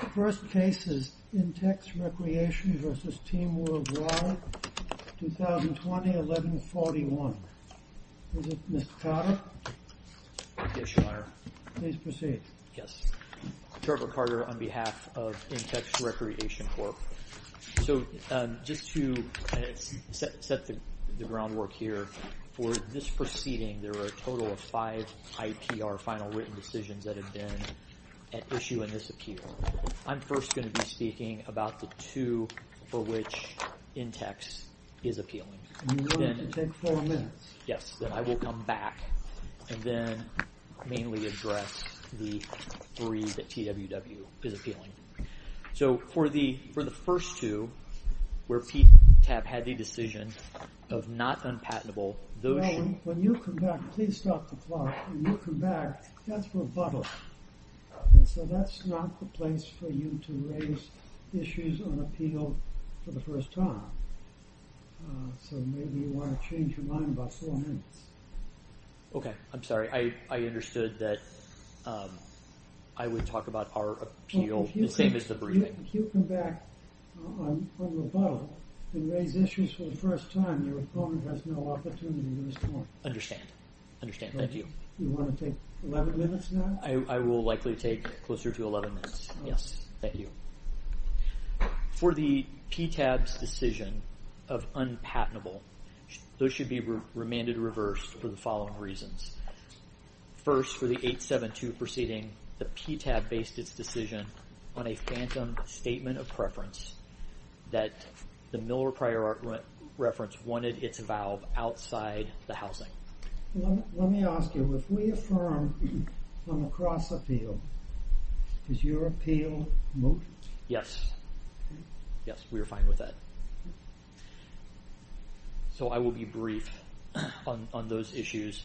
The first case is Intex Recreation v. Team Worldwide, 2020-11-41. Is it Mr. Carter? Yes, Your Honor. Please proceed. Yes, Trevor Carter on behalf of Intex Recreation Corp. So, just to set the groundwork here, for this proceeding there were a total of five IPR final written decisions that have been at issue in this appeal. I'm first going to be speaking about the two for which Intex is appealing. And you're going to take four minutes. Yes, then I will come back and then mainly address the three that TWW is appealing. So, for the first two, where PTAP had the decision of not unpatentable, those should... No, when you come back, please stop the clock. When you come back, that's rebuttal. So, that's not the place for you to raise issues on appeal for the first time. So, maybe you want to change your mind about four minutes. Okay, I'm sorry. I understood that I would talk about our appeal the same as the briefing. If you come back on rebuttal and raise issues for the first time, your opponent has no opportunity to respond. Understand. Understand. Thank you. You want to take 11 minutes now? I will likely take closer to 11 minutes. Yes, thank you. For the PTAP's decision of unpatentable, those should be remanded reversed for the following reasons. First, for the 872 proceeding, the PTAP based its decision on a phantom statement of preference that the Miller prior reference wanted its valve outside the housing. Let me ask you, if we affirm from across appeal, is your appeal moot? Yes. Yes, we are fine with that. So, I will be brief on those issues.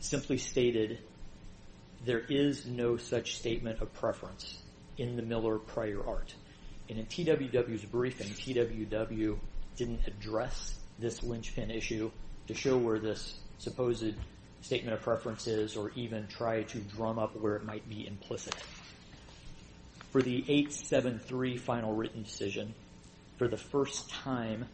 Simply stated, there is no such statement of preference in the Miller prior art. And in TWW's briefing, TWW didn't address this linchpin issue to show where this supposed statement of preference is or even try to drum up where it might be implicit. For the 873 final written decision, for the first time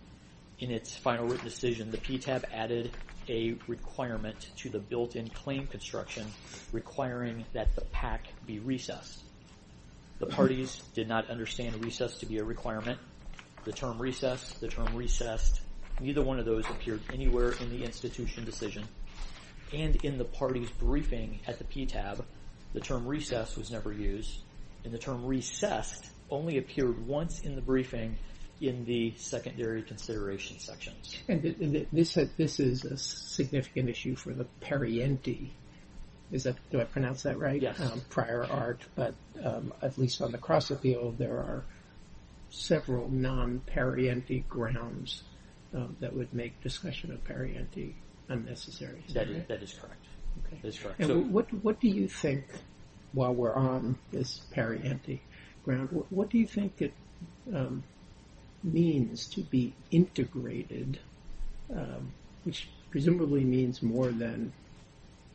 in its final written decision, the PTAP added a requirement to the built-in claim construction requiring that the PAC be recessed. The parties did not understand recess to be a requirement. The term recess, the term recessed, neither one of those appeared anywhere in the institution decision. And in the party's briefing at the PTAP, the term recess was never used. And the term recessed only appeared once in the briefing in the secondary consideration sections. And this is a significant issue for the Perrienti. Do I pronounce that right? Yes. Prior art, but at least on the cross appeal, there are several non-Perrienti grounds that would make discussion of Perrienti unnecessary. That is correct. What do you think, while we're on this Perrienti ground, what do you think it means to be integrated, which presumably means more than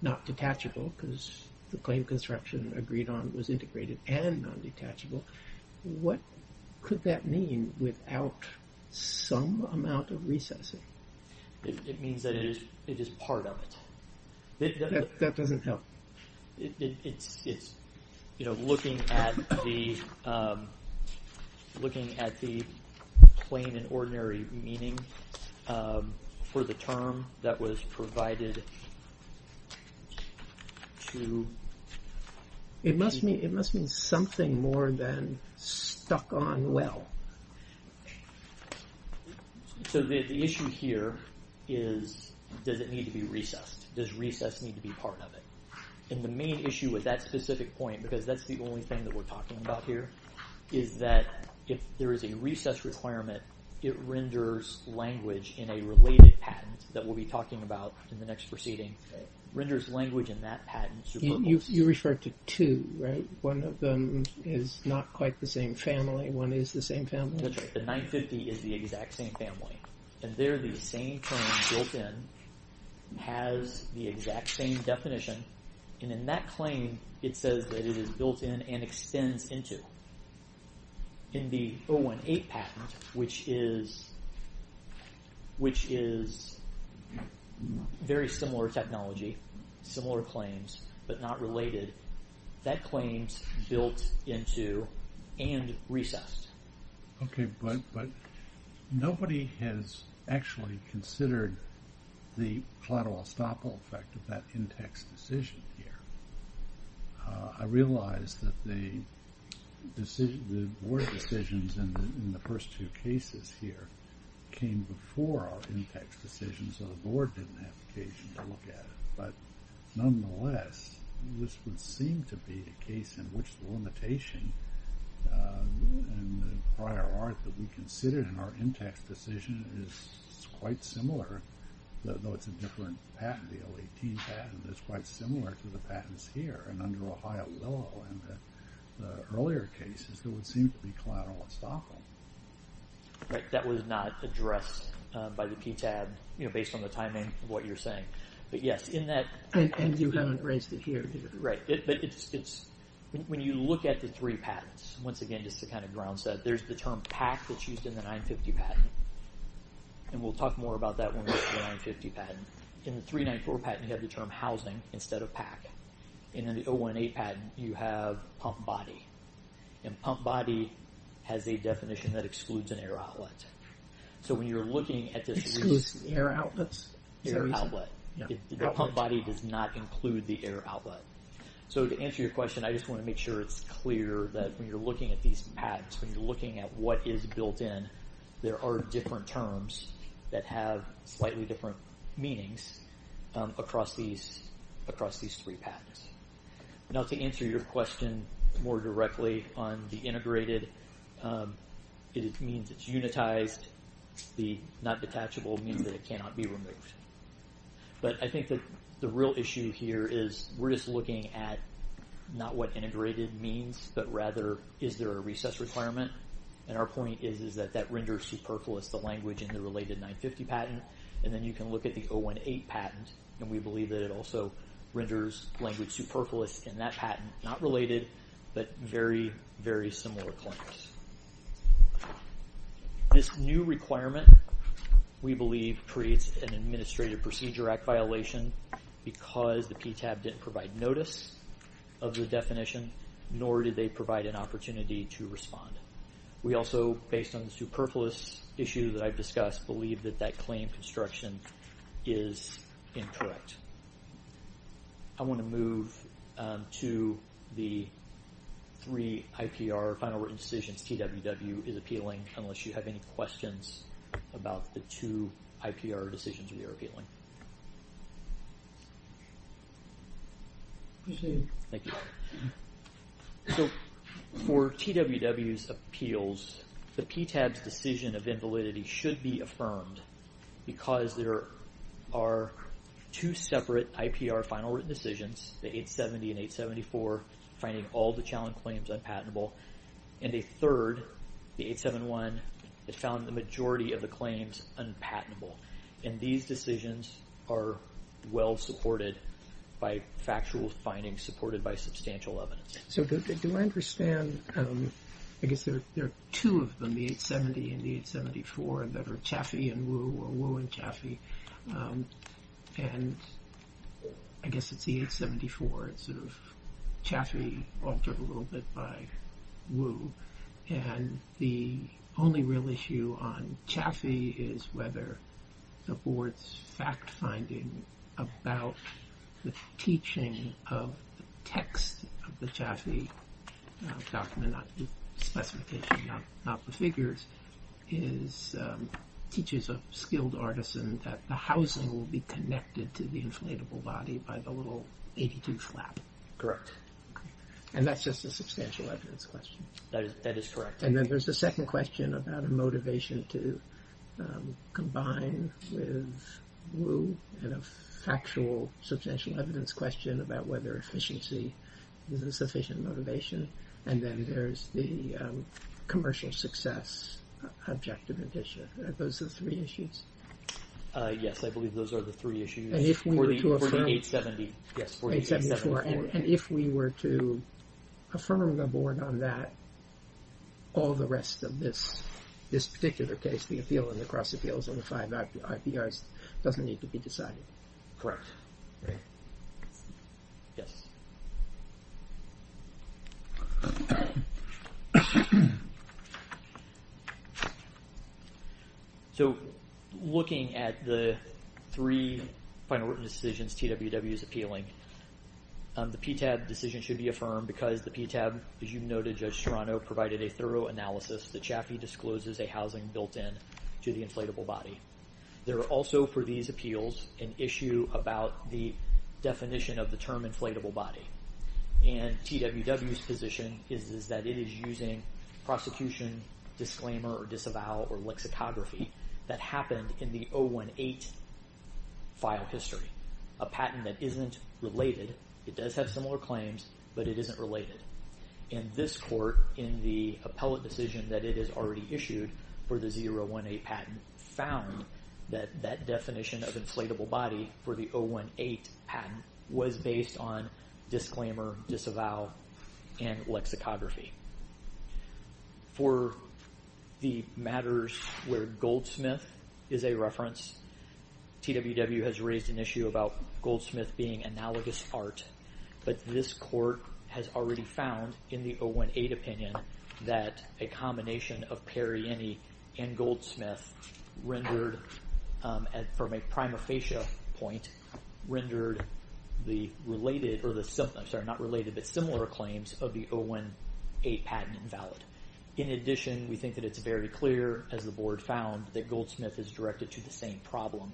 not detachable, because the claim construction agreed on was integrated and non-detachable. What could that mean without some amount of recessing? It means that it is part of it. That doesn't help. It's, you know, looking at the plain and ordinary meaning for the term that was provided to... It must mean something more than stuck on well. So the issue here is, does it need to be recessed? Does recess need to be part of it? And the main issue with that specific point, because that's the only thing that we're talking about here, is that if there is a recess requirement, it renders language in a related patent that we'll be talking about in the next proceeding. It renders language in that patent. You referred to two, right? One of them is not quite the same family. One is the same family. That's right. The 950 is the exact same family. And they're the same claim built in, has the exact same definition. And in that claim, it says that it is built in and extends into. In the 018 patent, which is very similar technology, similar claims, but not related, that claim's built into and recessed. Okay, but nobody has actually considered the collateral estoppel effect of that in-text decision here. I realize that the board decisions in the first two cases here came before our in-text decisions, so the board didn't have occasion to look at it. But nonetheless, this would seem to be a case in which the limitation and the prior art that we considered in our in-text decision is quite similar, though it's a different patent, the 018 patent, that's quite similar to the patents here. And under Ohio law in the earlier cases, it would seem to be collateral estoppel. Right, that was not addressed by the PTAB, you know, based on the timing of what you're saying. But yes, in that... And you haven't raised it here either. Right, but when you look at the three patents, once again, just to kind of ground set, there's the term PAC that's used in the 950 patent, and we'll talk more about that when we get to the 950 patent. In the 394 patent, you have the term housing instead of PAC. In the 018 patent, you have pump body. And pump body has a definition that excludes an air outlet. So when you're looking at this... Excludes air outlets? The pump body does not include the air outlet. So to answer your question, I just want to make sure it's clear that when you're looking at these patents, when you're looking at what is built in, there are different terms that have slightly different meanings across these three patents. Now, to answer your question more directly on the integrated, it means it's unitized. The not detachable means that it cannot be removed. But I think that the real issue here is we're just looking at not what integrated means, but rather is there a recess requirement? And our point is that that renders superfluous the language in the related 950 patent. And then you can look at the 018 patent, and we believe that it also renders language superfluous in that patent, not related, but very, very similar claims. This new requirement, we believe, creates an Administrative Procedure Act violation because the PTAB didn't provide notice of the definition, nor did they provide an opportunity to respond. We also, based on the superfluous issue that I've discussed, believe that that claim construction is incorrect. I want to move to the three IPR, final written decisions TWW is appealing, unless you have any questions about the two IPR decisions we are appealing. Thank you. So for TWW's appeals, the PTAB's decision of invalidity should be affirmed because there are two separate IPR final written decisions, the 870 and 874, finding all the challenge claims unpatentable, and a third, the 871, that found the majority of the claims unpatentable. And these decisions are well supported by factual findings supported by substantial evidence. So do I understand, I guess there are two of them, the 870 and the 874, that are Chaffee and Wu, or Wu and Chaffee, and I guess it's the 874, it's sort of Chaffee altered a little bit by Wu, and the only real issue on Chaffee is whether the board's fact-finding about the teaching of the text of the Chaffee document, the specification, not the figures, teaches a skilled artisan that the housing will be connected to the inflatable body by the little 82 flap. Correct. And that's just a substantial evidence question. That is correct. And then there's the second question about a motivation to combine with Wu and a factual substantial evidence question about whether efficiency is a sufficient motivation, and then there's the commercial success objective addition. Are those the three issues? Yes, I believe those are the three issues. And if we were to affirm the board on that, all the rest of this particular case, the appeal and the cross appeals and the five IPRs doesn't need to be decided. Correct. Yes. So looking at the three final written decisions TWW is appealing, the PTAB decision should be affirmed because the PTAB, as you noted, Judge Serrano, provided a thorough analysis that Chaffee discloses a housing built-in to the inflatable body. There are also, for these appeals, an issue about the definition of the term inflatable body and TWW's position is that it is using prosecution disclaimer or disavow or lexicography that happened in the 018 file history, a patent that isn't related. It does have similar claims, but it isn't related. And this court, in the appellate decision that it has already issued for the 018 patent, found that that definition of inflatable body for the 018 patent was based on disclaimer, disavow, and lexicography. For the matters where goldsmith is a reference, TWW has raised an issue about goldsmith being analogous art, but this court has already found in the 018 opinion that a combination of perienne and goldsmith rendered, from a prima facie point, rendered the similar claims of the 018 patent invalid. In addition, we think that it's very clear, as the board found, that goldsmith is directed to the same problem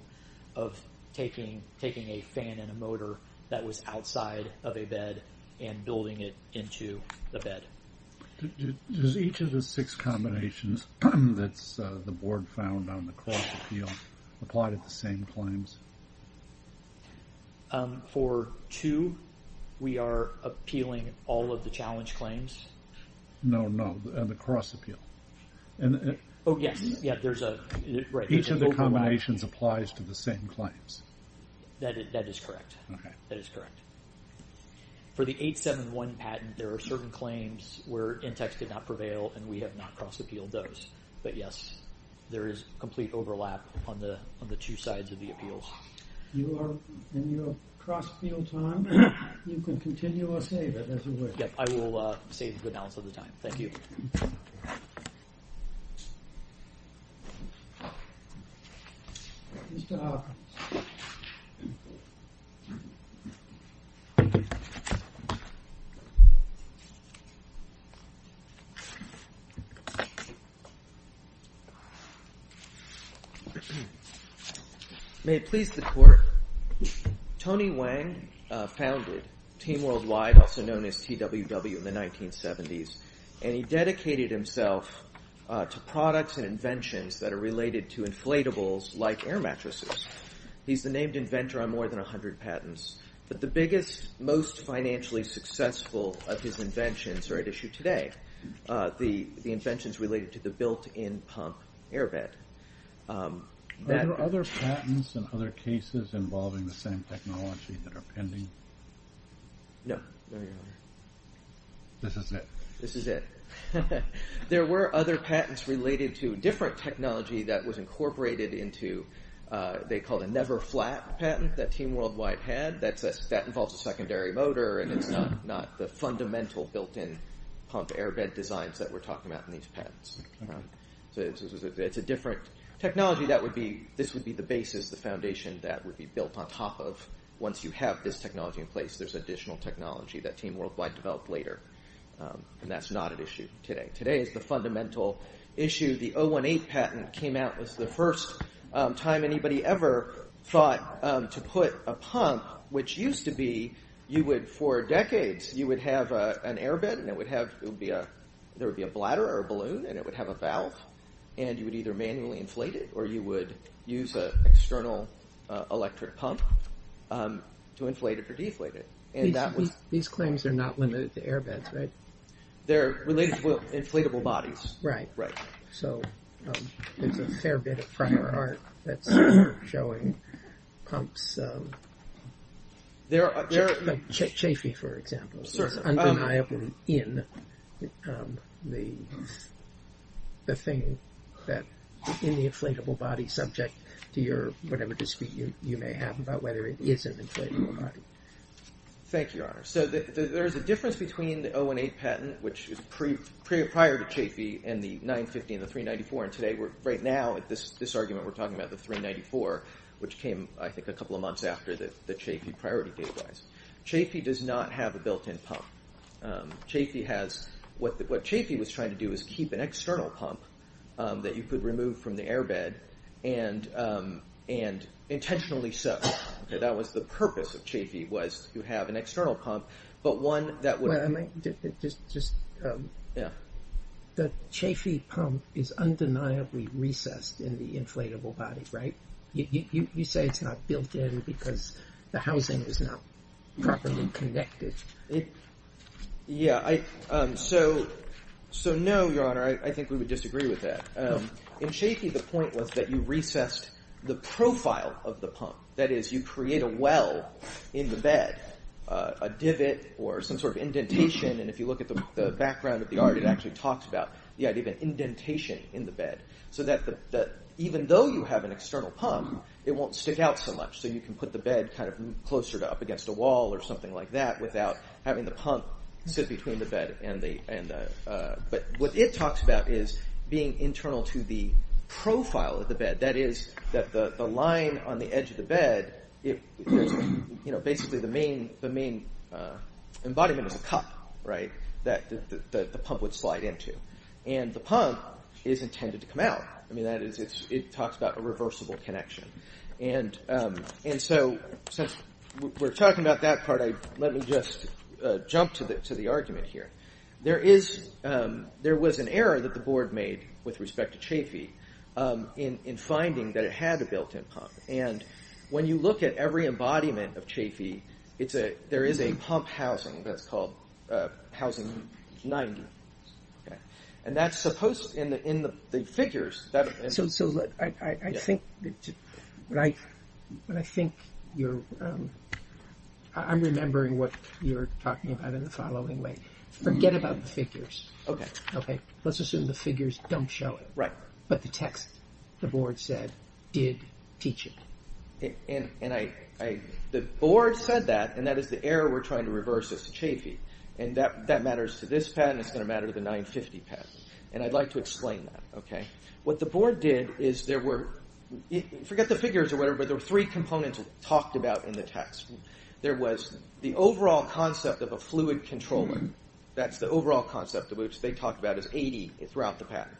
of taking a fan and a motor that was outside of a bed and building it into the bed. Does each of the six combinations that the board found on the cross appeal apply to the same claims? For two, we are appealing all of the challenge claims. No, no, on the cross appeal. Oh, yes, yeah, there's a... Each of the combinations applies to the same claims. That is correct. Okay. That is correct. For the 871 patent, there are certain claims where Intex did not prevail, and we have not cross appealed those. But, yes, there is complete overlap on the two sides of the appeals. You are in your cross appeal time. You can continue or save it, as it were. Yep, I will save the balance of the time. Thank you. Mr. Hopkins. Thank you. May it please the court. Tony Wang founded Team Worldwide, also known as TWW, in the 1970s, and he dedicated himself to products and inventions that are related to inflatables like air mattresses. He's the named inventor on more than 100 patents. But the biggest, most financially successful of his inventions are at issue today, the inventions related to the built-in pump air bed. Are there other patents and other cases involving the same technology that are pending? No. No, Your Honor. This is it. This is it. There were other patents related to different technology that was incorporated into, they called a never-flat patent that Team Worldwide had. That involves a secondary motor, and it's not the fundamental built-in pump air bed designs that we're talking about in these patents. So it's a different technology. This would be the basis, the foundation that would be built on top of. Once you have this technology in place, there's additional technology that Team Worldwide developed later, and that's not at issue today. Today is the fundamental issue. The 018 patent came out as the first time anybody ever thought to put a pump, which used to be you would, for decades, you would have an air bed, and it would have, there would be a bladder or a balloon, and it would have a valve, and you would either manually inflate it or you would use an external electric pump to inflate it or deflate it. These claims are not limited to air beds, right? They're related to inflatable bodies. Right. So there's a fair bit of prior art that's showing pumps. Chafee, for example. It's undeniably in the thing that, in the inflatable body subject to your, whatever dispute you may have about whether it is an inflatable body. Thank you, Your Honor. So there's a difference between the 018 patent, which is prior to Chafee, and the 950 and the 394. And today, right now, this argument we're talking about, the 394, which came, I think, a couple of months after the Chafee priority case was. Chafee does not have a built-in pump. Chafee has, what Chafee was trying to do was keep an external pump that you could remove from the air bed and intentionally soak. That was the purpose of Chafee, was to have an external pump, but one that would- Yeah. The Chafee pump is undeniably recessed in the inflatable body, right? You say it's not built in because the housing is not properly connected. Yeah, so no, Your Honor. I think we would disagree with that. In Chafee, the point was that you recessed the profile of the pump. That is, you create a well in the bed, a divot or some sort of indentation and if you look at the background of the art, it actually talks about the idea of an indentation in the bed so that even though you have an external pump, it won't stick out so much so you can put the bed closer up against a wall or something like that without having the pump sit between the bed. What it talks about is being internal to the profile of the bed. That is, the line on the edge of the bed, basically the main embodiment is a cup that the pump would slide into and the pump is intended to come out. That is, it talks about a reversible connection and so since we're talking about that part, let me just jump to the argument here. There was an error that the board made with respect to Chafee in finding that it had a built-in pump and when you look at every embodiment of Chafee, there is a pump housing that's called housing 90. That's supposed in the figures. I'm remembering what you're talking about in the following way. Forget about the figures. Let's assume the figures don't show it but the text, the board said, did teach it. The board said that and that is the error we're trying to reverse as to Chafee and that matters to this pattern and it's going to matter to the 950 pattern and I'd like to explain that. What the board did is there were, forget the figures or whatever, but there were three components talked about in the text. There was the overall concept of a fluid controller. That's the overall concept which they talked about as 80 throughout the pattern.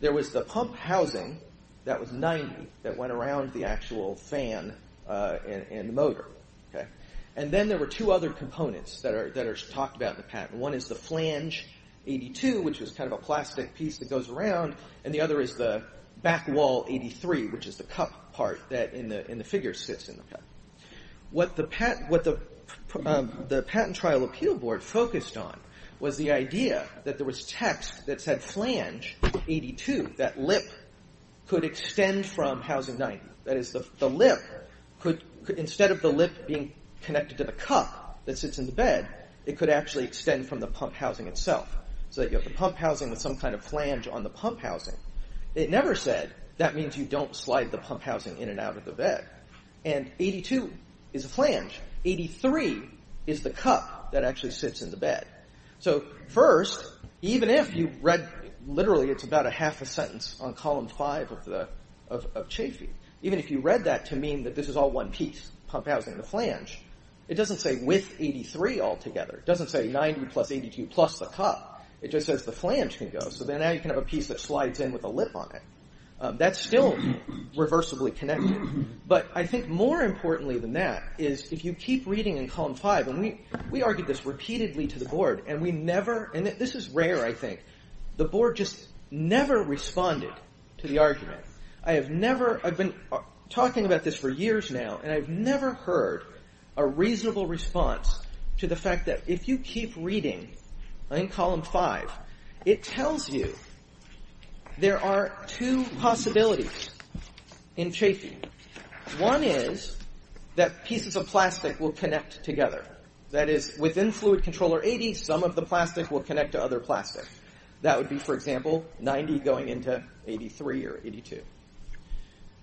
There was the pump housing that was 90 that went around the actual fan and motor and then there were two other components that are talked about in the pattern. One is the flange 82 which is kind of a plastic piece that goes around and the other is the back wall 83 which is the cup part that in the figure sits in the pattern. What the patent trial appeal board focused on was the idea that there was text that said flange 82 that lip could extend from housing 90. That is the lip could, instead of the lip being connected to the cup that sits in the bed, it could actually extend from the pump housing itself so that you have the pump housing with some kind of flange on the pump housing. It never said that means you don't slide the pump housing in and out of the bed and 82 is a flange. 83 is the cup that actually sits in the bed. First, even if you read, literally it's about a half a sentence on column five of Chafee. Even if you read that to mean that this is all one piece, pump housing and the flange, it doesn't say with 83 altogether. It doesn't say 90 plus 82 plus the cup. It just says the flange can go so then now you can have a piece that slides in with a lip on it. That's still reversibly connected but I think more importantly than that is if you keep reading in column five and we argued this repeatedly to the board and we never and this is rare I think. The board just never responded to the argument. I have never, I've been talking about this for years now and I've never heard a reasonable response to the fact that if you keep reading in column five, it tells you there are two possibilities in Chafee. One is that pieces of plastic will connect together. That is within fluid controller 80, some of the plastic will connect to other plastic. That would be for example 90 going into 83 or 82.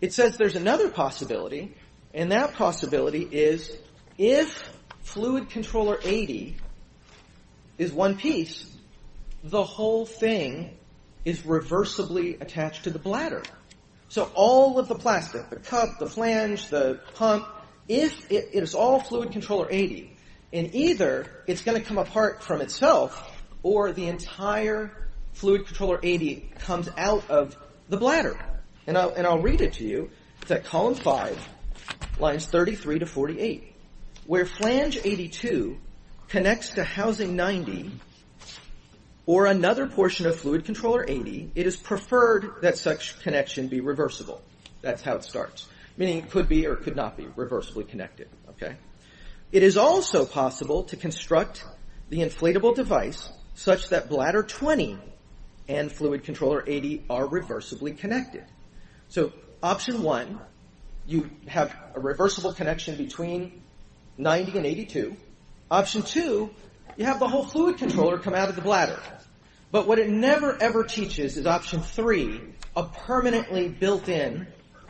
It says there's another possibility and that possibility is if fluid controller 80 is one piece, the whole thing is reversibly attached to the bladder so all of the plastic, the cup, the flange, the pump, if it is all fluid controller 80 and either it's going to come apart from itself or the entire fluid controller 80 comes out of the bladder and I'll read it to you. It's at column five, lines 33 to 48 where flange 82 connects to housing 90 or another portion of fluid controller 80. It is preferred that such connection be reversible. That's how it starts. Meaning it could be or could not be reversibly connected. It is also possible to construct the inflatable device such that bladder 20 and fluid controller 80 are reversibly connected. So option one, you have a reversible connection between 90 and 82. Option two, you have the whole fluid controller come out of the bladder. But what it never ever teaches is option three, a permanently built in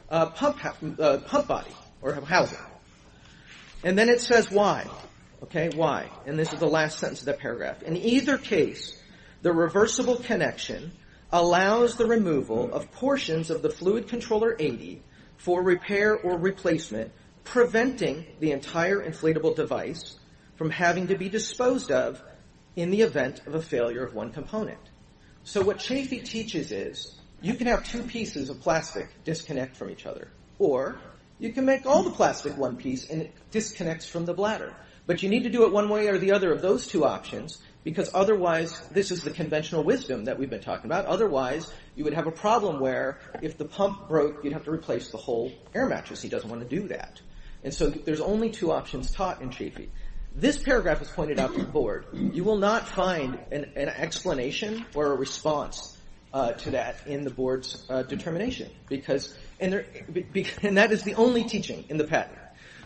pump body or housing. And then it says why. Okay, why? And this is the last sentence of that paragraph. In either case, the reversible connection allows the removal of portions of the fluid controller 80 for repair or replacement preventing the entire inflatable device from having to be disposed of in the event of a failure of one component. So what Chafee teaches is you can have two pieces of plastic disconnect from each other. Or you can make all the plastic one piece and it disconnects from the bladder. But you need to do it one way or the other of those two options because otherwise this is the conventional wisdom that we've been talking about. Otherwise you would have a problem where if the pump broke you'd have to replace the whole air mattress. He doesn't want to do that. And so there's only two options taught in Chafee. This paragraph is pointed out to the board. You will not find an explanation or a response to that in the board's determination. And that is the only teaching in the pattern.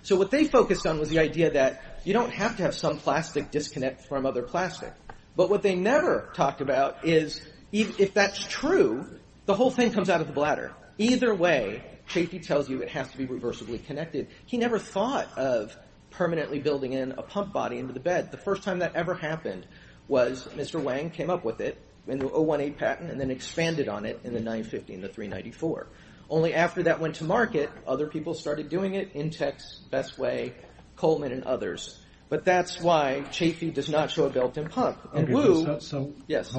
So what they focused on was the idea that you don't have to have some plastic disconnect from other plastic. But what they never talked about is if that's true, the whole thing comes out of the bladder. Either way, Chafee tells you it has to be reversibly connected. He never thought of permanently building in a pump body into the bed. The first time that ever happened was Mr. Wang came up with it in the 018 patent and then expanded on it in the 950 and the 394. Only after that went to market, other people started doing it. Intex, Bestway, Coleman and others. But that's why Chafee does not show a built-in pump. And Wu... Yes.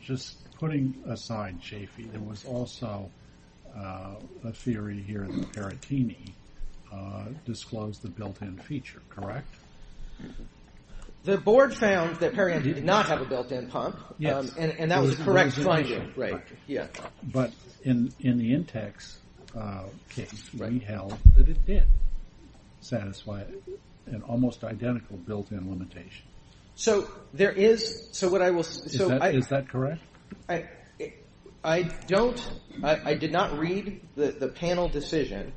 Just putting aside Chafee, there was also a theory here that Perottini disclosed the built-in feature, correct? The board found that Perianti did not have a built-in pump. Yes. And that was a correct finding. But in the Intex case, we held that it did satisfy an almost identical built-in limitation. So there is... Is that correct? I did not read the panel decision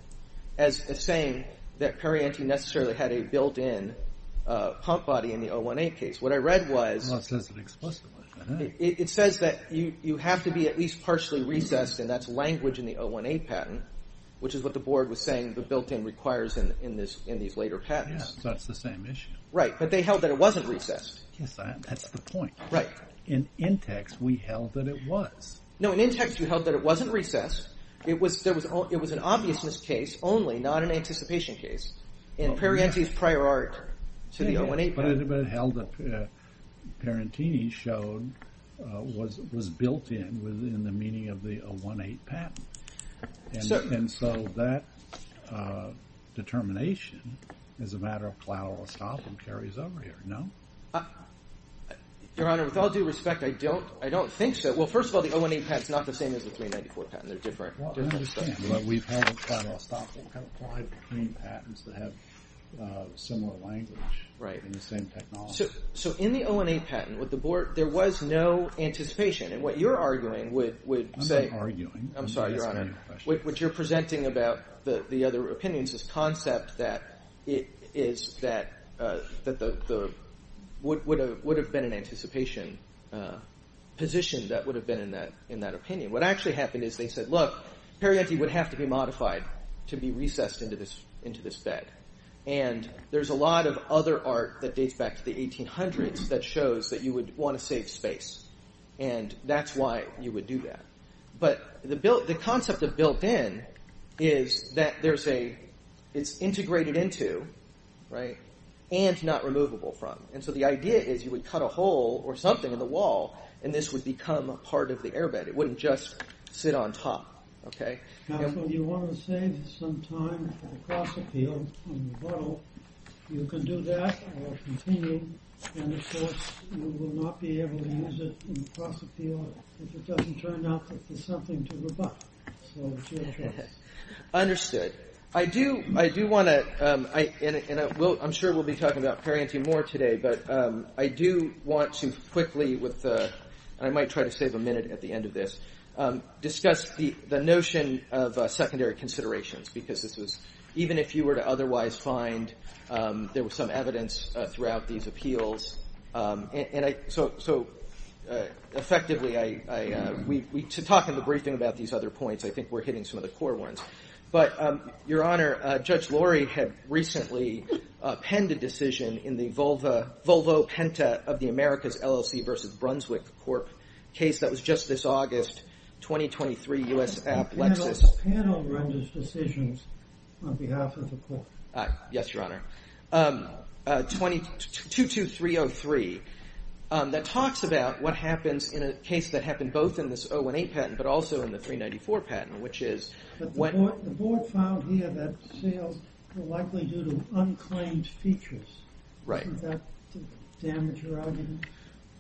as saying that Perianti necessarily had a built-in pump body in the 018 case. What I read was... It says it explicitly. It says that you have to be at least partially recessed and that's language in the 018 patent, which is what the board was saying the built-in requires in these later patents. Yes, that's the same issue. Right, but they held that it wasn't recessed. Yes, that's the point. Right. In Intex, we held that it was. No, in Intex, we held that it wasn't recessed. It was an obviousness case only, not an anticipation case. In Perianti's prior art to the 018 patent. Yes, but it held that Periantini showed was built-in within the meaning of the 018 patent. And so that determination is a matter of plethora of stop and carries over here. No? Your Honor, with all due respect, I don't think so. Well, first of all, the 018 patent's not the same as the 394 patent. They're different. I understand, but we've had a plethora of stop applied between patents that have similar language in the same technology. So in the 018 patent, with the board, there was no anticipation. And what you're arguing would say... I'm not arguing. I'm sorry, Your Honor. What you're presenting about the other opinions is concept that would have been an anticipation position that would have been in that opinion. What actually happened is they said, look, Periantini would have to be modified to be recessed into this bed. And there's a lot of other art that dates back to the 1800s that shows that you would want to save space. And that's why you would do that. But the concept of built-in is that it's integrated into, right, and not removable from. And so the idea is you would cut a hole or something in the wall, and this would become part of the airbed. It wouldn't just sit on top, okay? So you want to save some time for the cross-appeal and rebuttal. You can do that or continue, and of course you will not be able to use it in the cross-appeal if it doesn't turn out that there's something to rebut. So it's your choice. Understood. I do want to... And I'm sure we'll be talking about Periantini more today, but I do want to quickly, and I might try to save a minute at the end of this, discuss the notion of secondary considerations, because this was... Even if you were to otherwise find there was some evidence throughout these appeals... And I... So, effectively, I... To talk in the briefing about these other points, I think we're hitting some of the core ones. But, Your Honor, Judge Lori had recently penned a decision in the Volvo-Penta of the America's LLC versus Brunswick Corp case that was just this August, 2023, U.S. App Lexis... The panel renders decisions on behalf of the court. Yes, Your Honor. 22303. That talks about what happens in a case that happened both in this 018 patent but also in the 394 patent, which is... The board found here that sales were likely due to unclaimed features. Right. Did that damage your argument?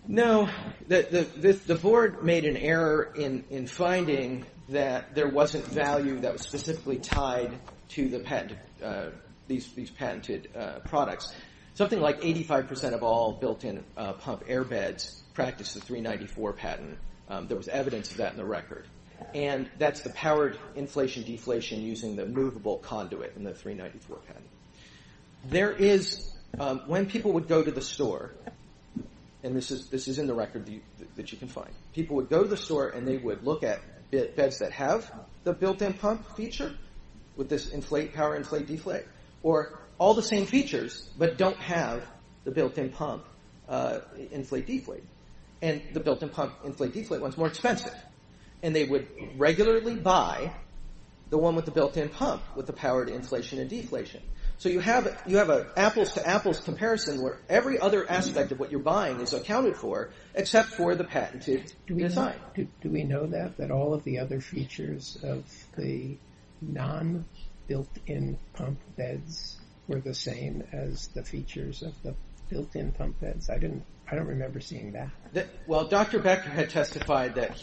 No. The board made an error in finding that there wasn't value that was specifically tied to the patent... These patented products. Something like 85% of all built-in pump airbeds practiced the 394 patent. There was evidence of that in the record. And that's the powered inflation-deflation using the movable conduit in the 394 patent. There is... When people would go to the store... And this is in the record that you can find. People would go to the store and they would look at beds that have the built-in pump feature with this inflate, power, inflate, deflate. Or all the same features but don't have the built-in pump inflate-deflate. And the built-in pump inflate-deflate one is more expensive. And they would regularly buy the one with the built-in pump with the powered inflation and deflation. So you have an apples-to-apples comparison where every other aspect of what you're buying is accounted for except for the patented design. Do we know that? That all of the other features of the non-built-in pump beds were the same as the features of the built-in pump beds? I don't remember seeing that. Well, Dr. Becker had testified that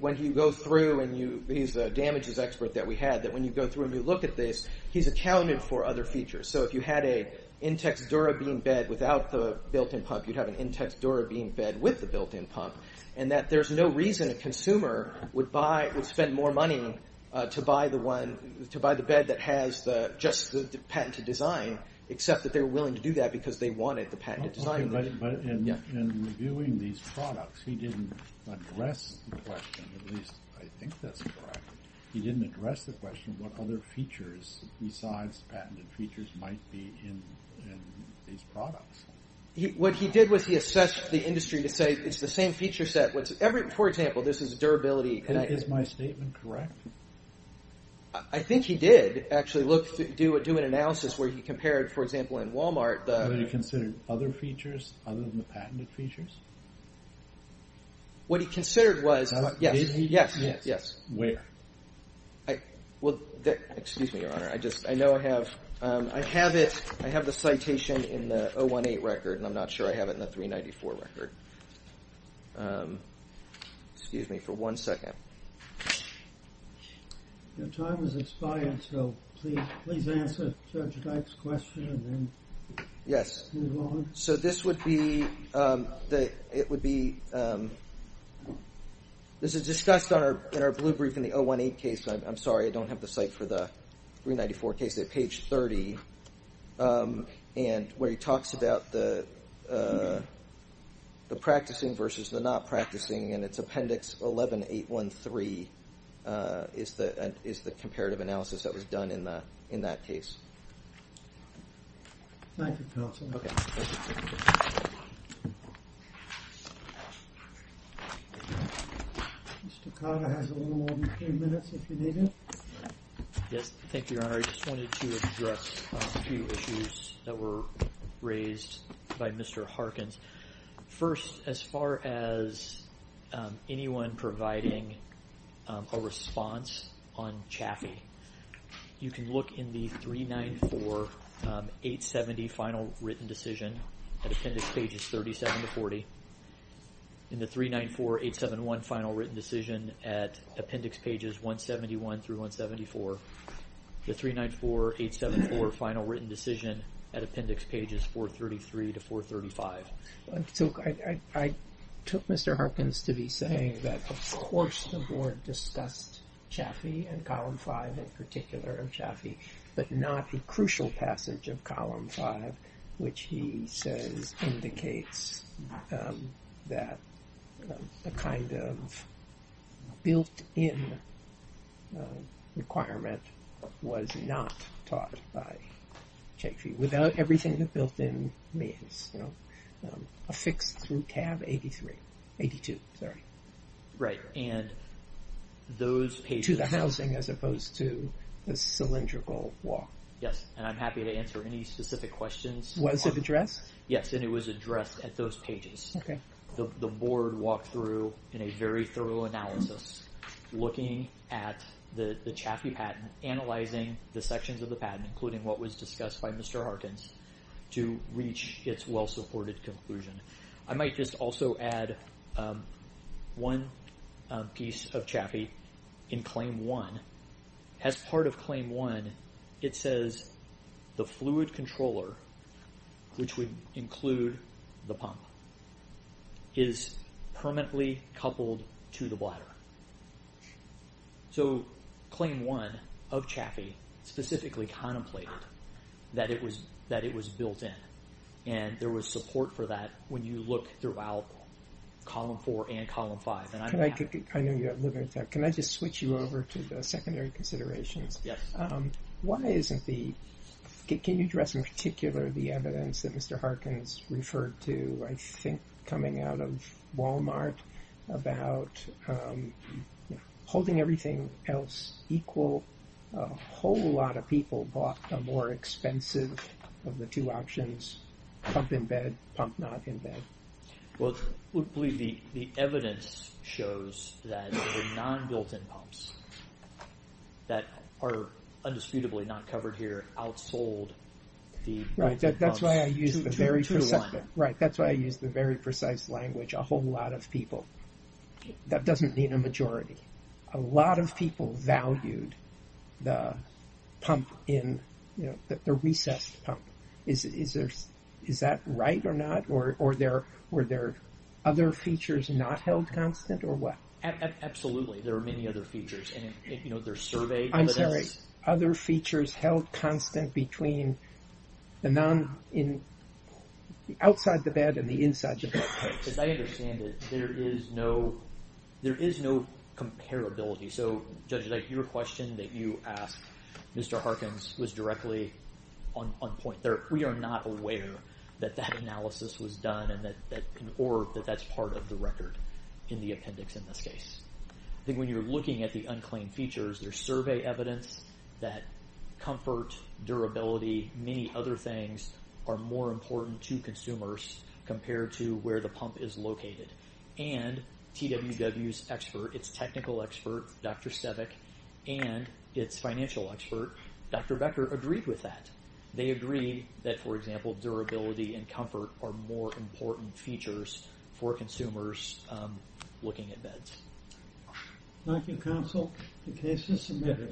when you go through and he's a damages expert that we had, that when you go through and you look at this, he's accounted for other features. So if you had a Intex DuraBean bed without the built-in pump, you'd have an Intex DuraBean bed with the built-in pump. And that there's no reason a consumer would buy, would spend more money to buy the one, to buy the bed that has just the patented design except that they were willing to do that because they wanted the patented design. Okay, but in reviewing these products, he didn't address the question, at least I think that's correct. He didn't address the question of what other features besides patented features might be in these products. What he did was he assessed the industry to say it's the same feature set. For example, this is durability. Is my statement correct? I think he did actually do an analysis where he compared, for example, in Walmart. What he considered other features other than the patented features? What he considered was, yes, yes, yes. Where? Well, excuse me, Your Honor. I know I have, I have it, I have the citation in the 018 record and I'm not sure I have it in the 394 record. Excuse me for one second. Your time is expired, so please answer Judge Dyke's question and then move on. Yes. So this would be, it would be, this is discussed in our blue brief in the 018 case. I'm sorry, I don't have the site for the 394 case. They're page 30. And where he talks about the practicing versus the not practicing and it's appendix 11813 is the comparative analysis that was done in that case. Thank you, counsel. Okay. Mr. Kaga has a little more than three minutes if you need him. Yes. Thank you, Your Honor. I just wanted to address a few issues that were raised by Mr. Harkins. First, as far as anyone providing a response on Chaffee, you can look in the 394 870 final written decision at appendix pages 37 to 40. In the 394 871 final written decision at appendix pages 171 through 174, the 394 874 final written decision at appendix pages 433 to 435. So I took Mr. Harkins to be saying that, of course, the board discussed Chaffee and column five in particular of Chaffee, but not the crucial passage of column five, which he says indicates that the kind of built-in requirement was not taught by Chaffee without everything the built-in means, affixed through tab 82. Right. And those pages... To the housing as opposed to the cylindrical wall. Yes. And I'm happy to answer any specific questions. Was it addressed? Yes. And it was addressed at those pages. Okay. The board walked through in a very thorough analysis looking at the Chaffee patent, analyzing the sections of the patent, including what was discussed by Mr. Harkins to reach its well-supported conclusion. I might just also add one piece of Chaffee in claim one. As part of claim one, it says the fluid controller, which would include the pump, is permanently coupled to the bladder. So claim one of Chaffee, specifically contemplated that it was built in. And there was support for that when you look throughout column four and column five. I know you have limited time. Can I just switch you over to the secondary considerations? Yes. Why isn't the... Can you address in particular the evidence that Mr. Harkins referred to, I think, coming out of Walmart about holding everything else equal, a whole lot of people bought a more expensive of the two options, pump in bed, pump not in bed. Well, I would believe the evidence shows that the non-built-in pumps that are indisputably not covered here outsold the... Right, that's why I used the very precise language, a whole lot of people. That doesn't mean a majority. A lot of people valued the pump in, the recessed pump. Is that right or not? Or were there other features not held constant or what? Absolutely. There are many other features. And there's survey evidence. I'm sorry. Other features held constant between the outside the bed and the inside the bed. As I understand it, there is no comparability. So, Judge Dyke, your question that you asked Mr. Harkins was directly on point. We are not aware that that analysis was done or that that's part of the record in the appendix in this case. I think when you're looking at the unclaimed features, there's survey evidence that comfort, durability, many other things are more important to consumers compared to where the pump is located. And TWW's expert, its technical expert, Dr. Stevik, and its financial expert, Dr. Becker, agreed with that. They agreed that, for example, durability and comfort are more important features for consumers looking at beds. Thank you, counsel. The case is submitted.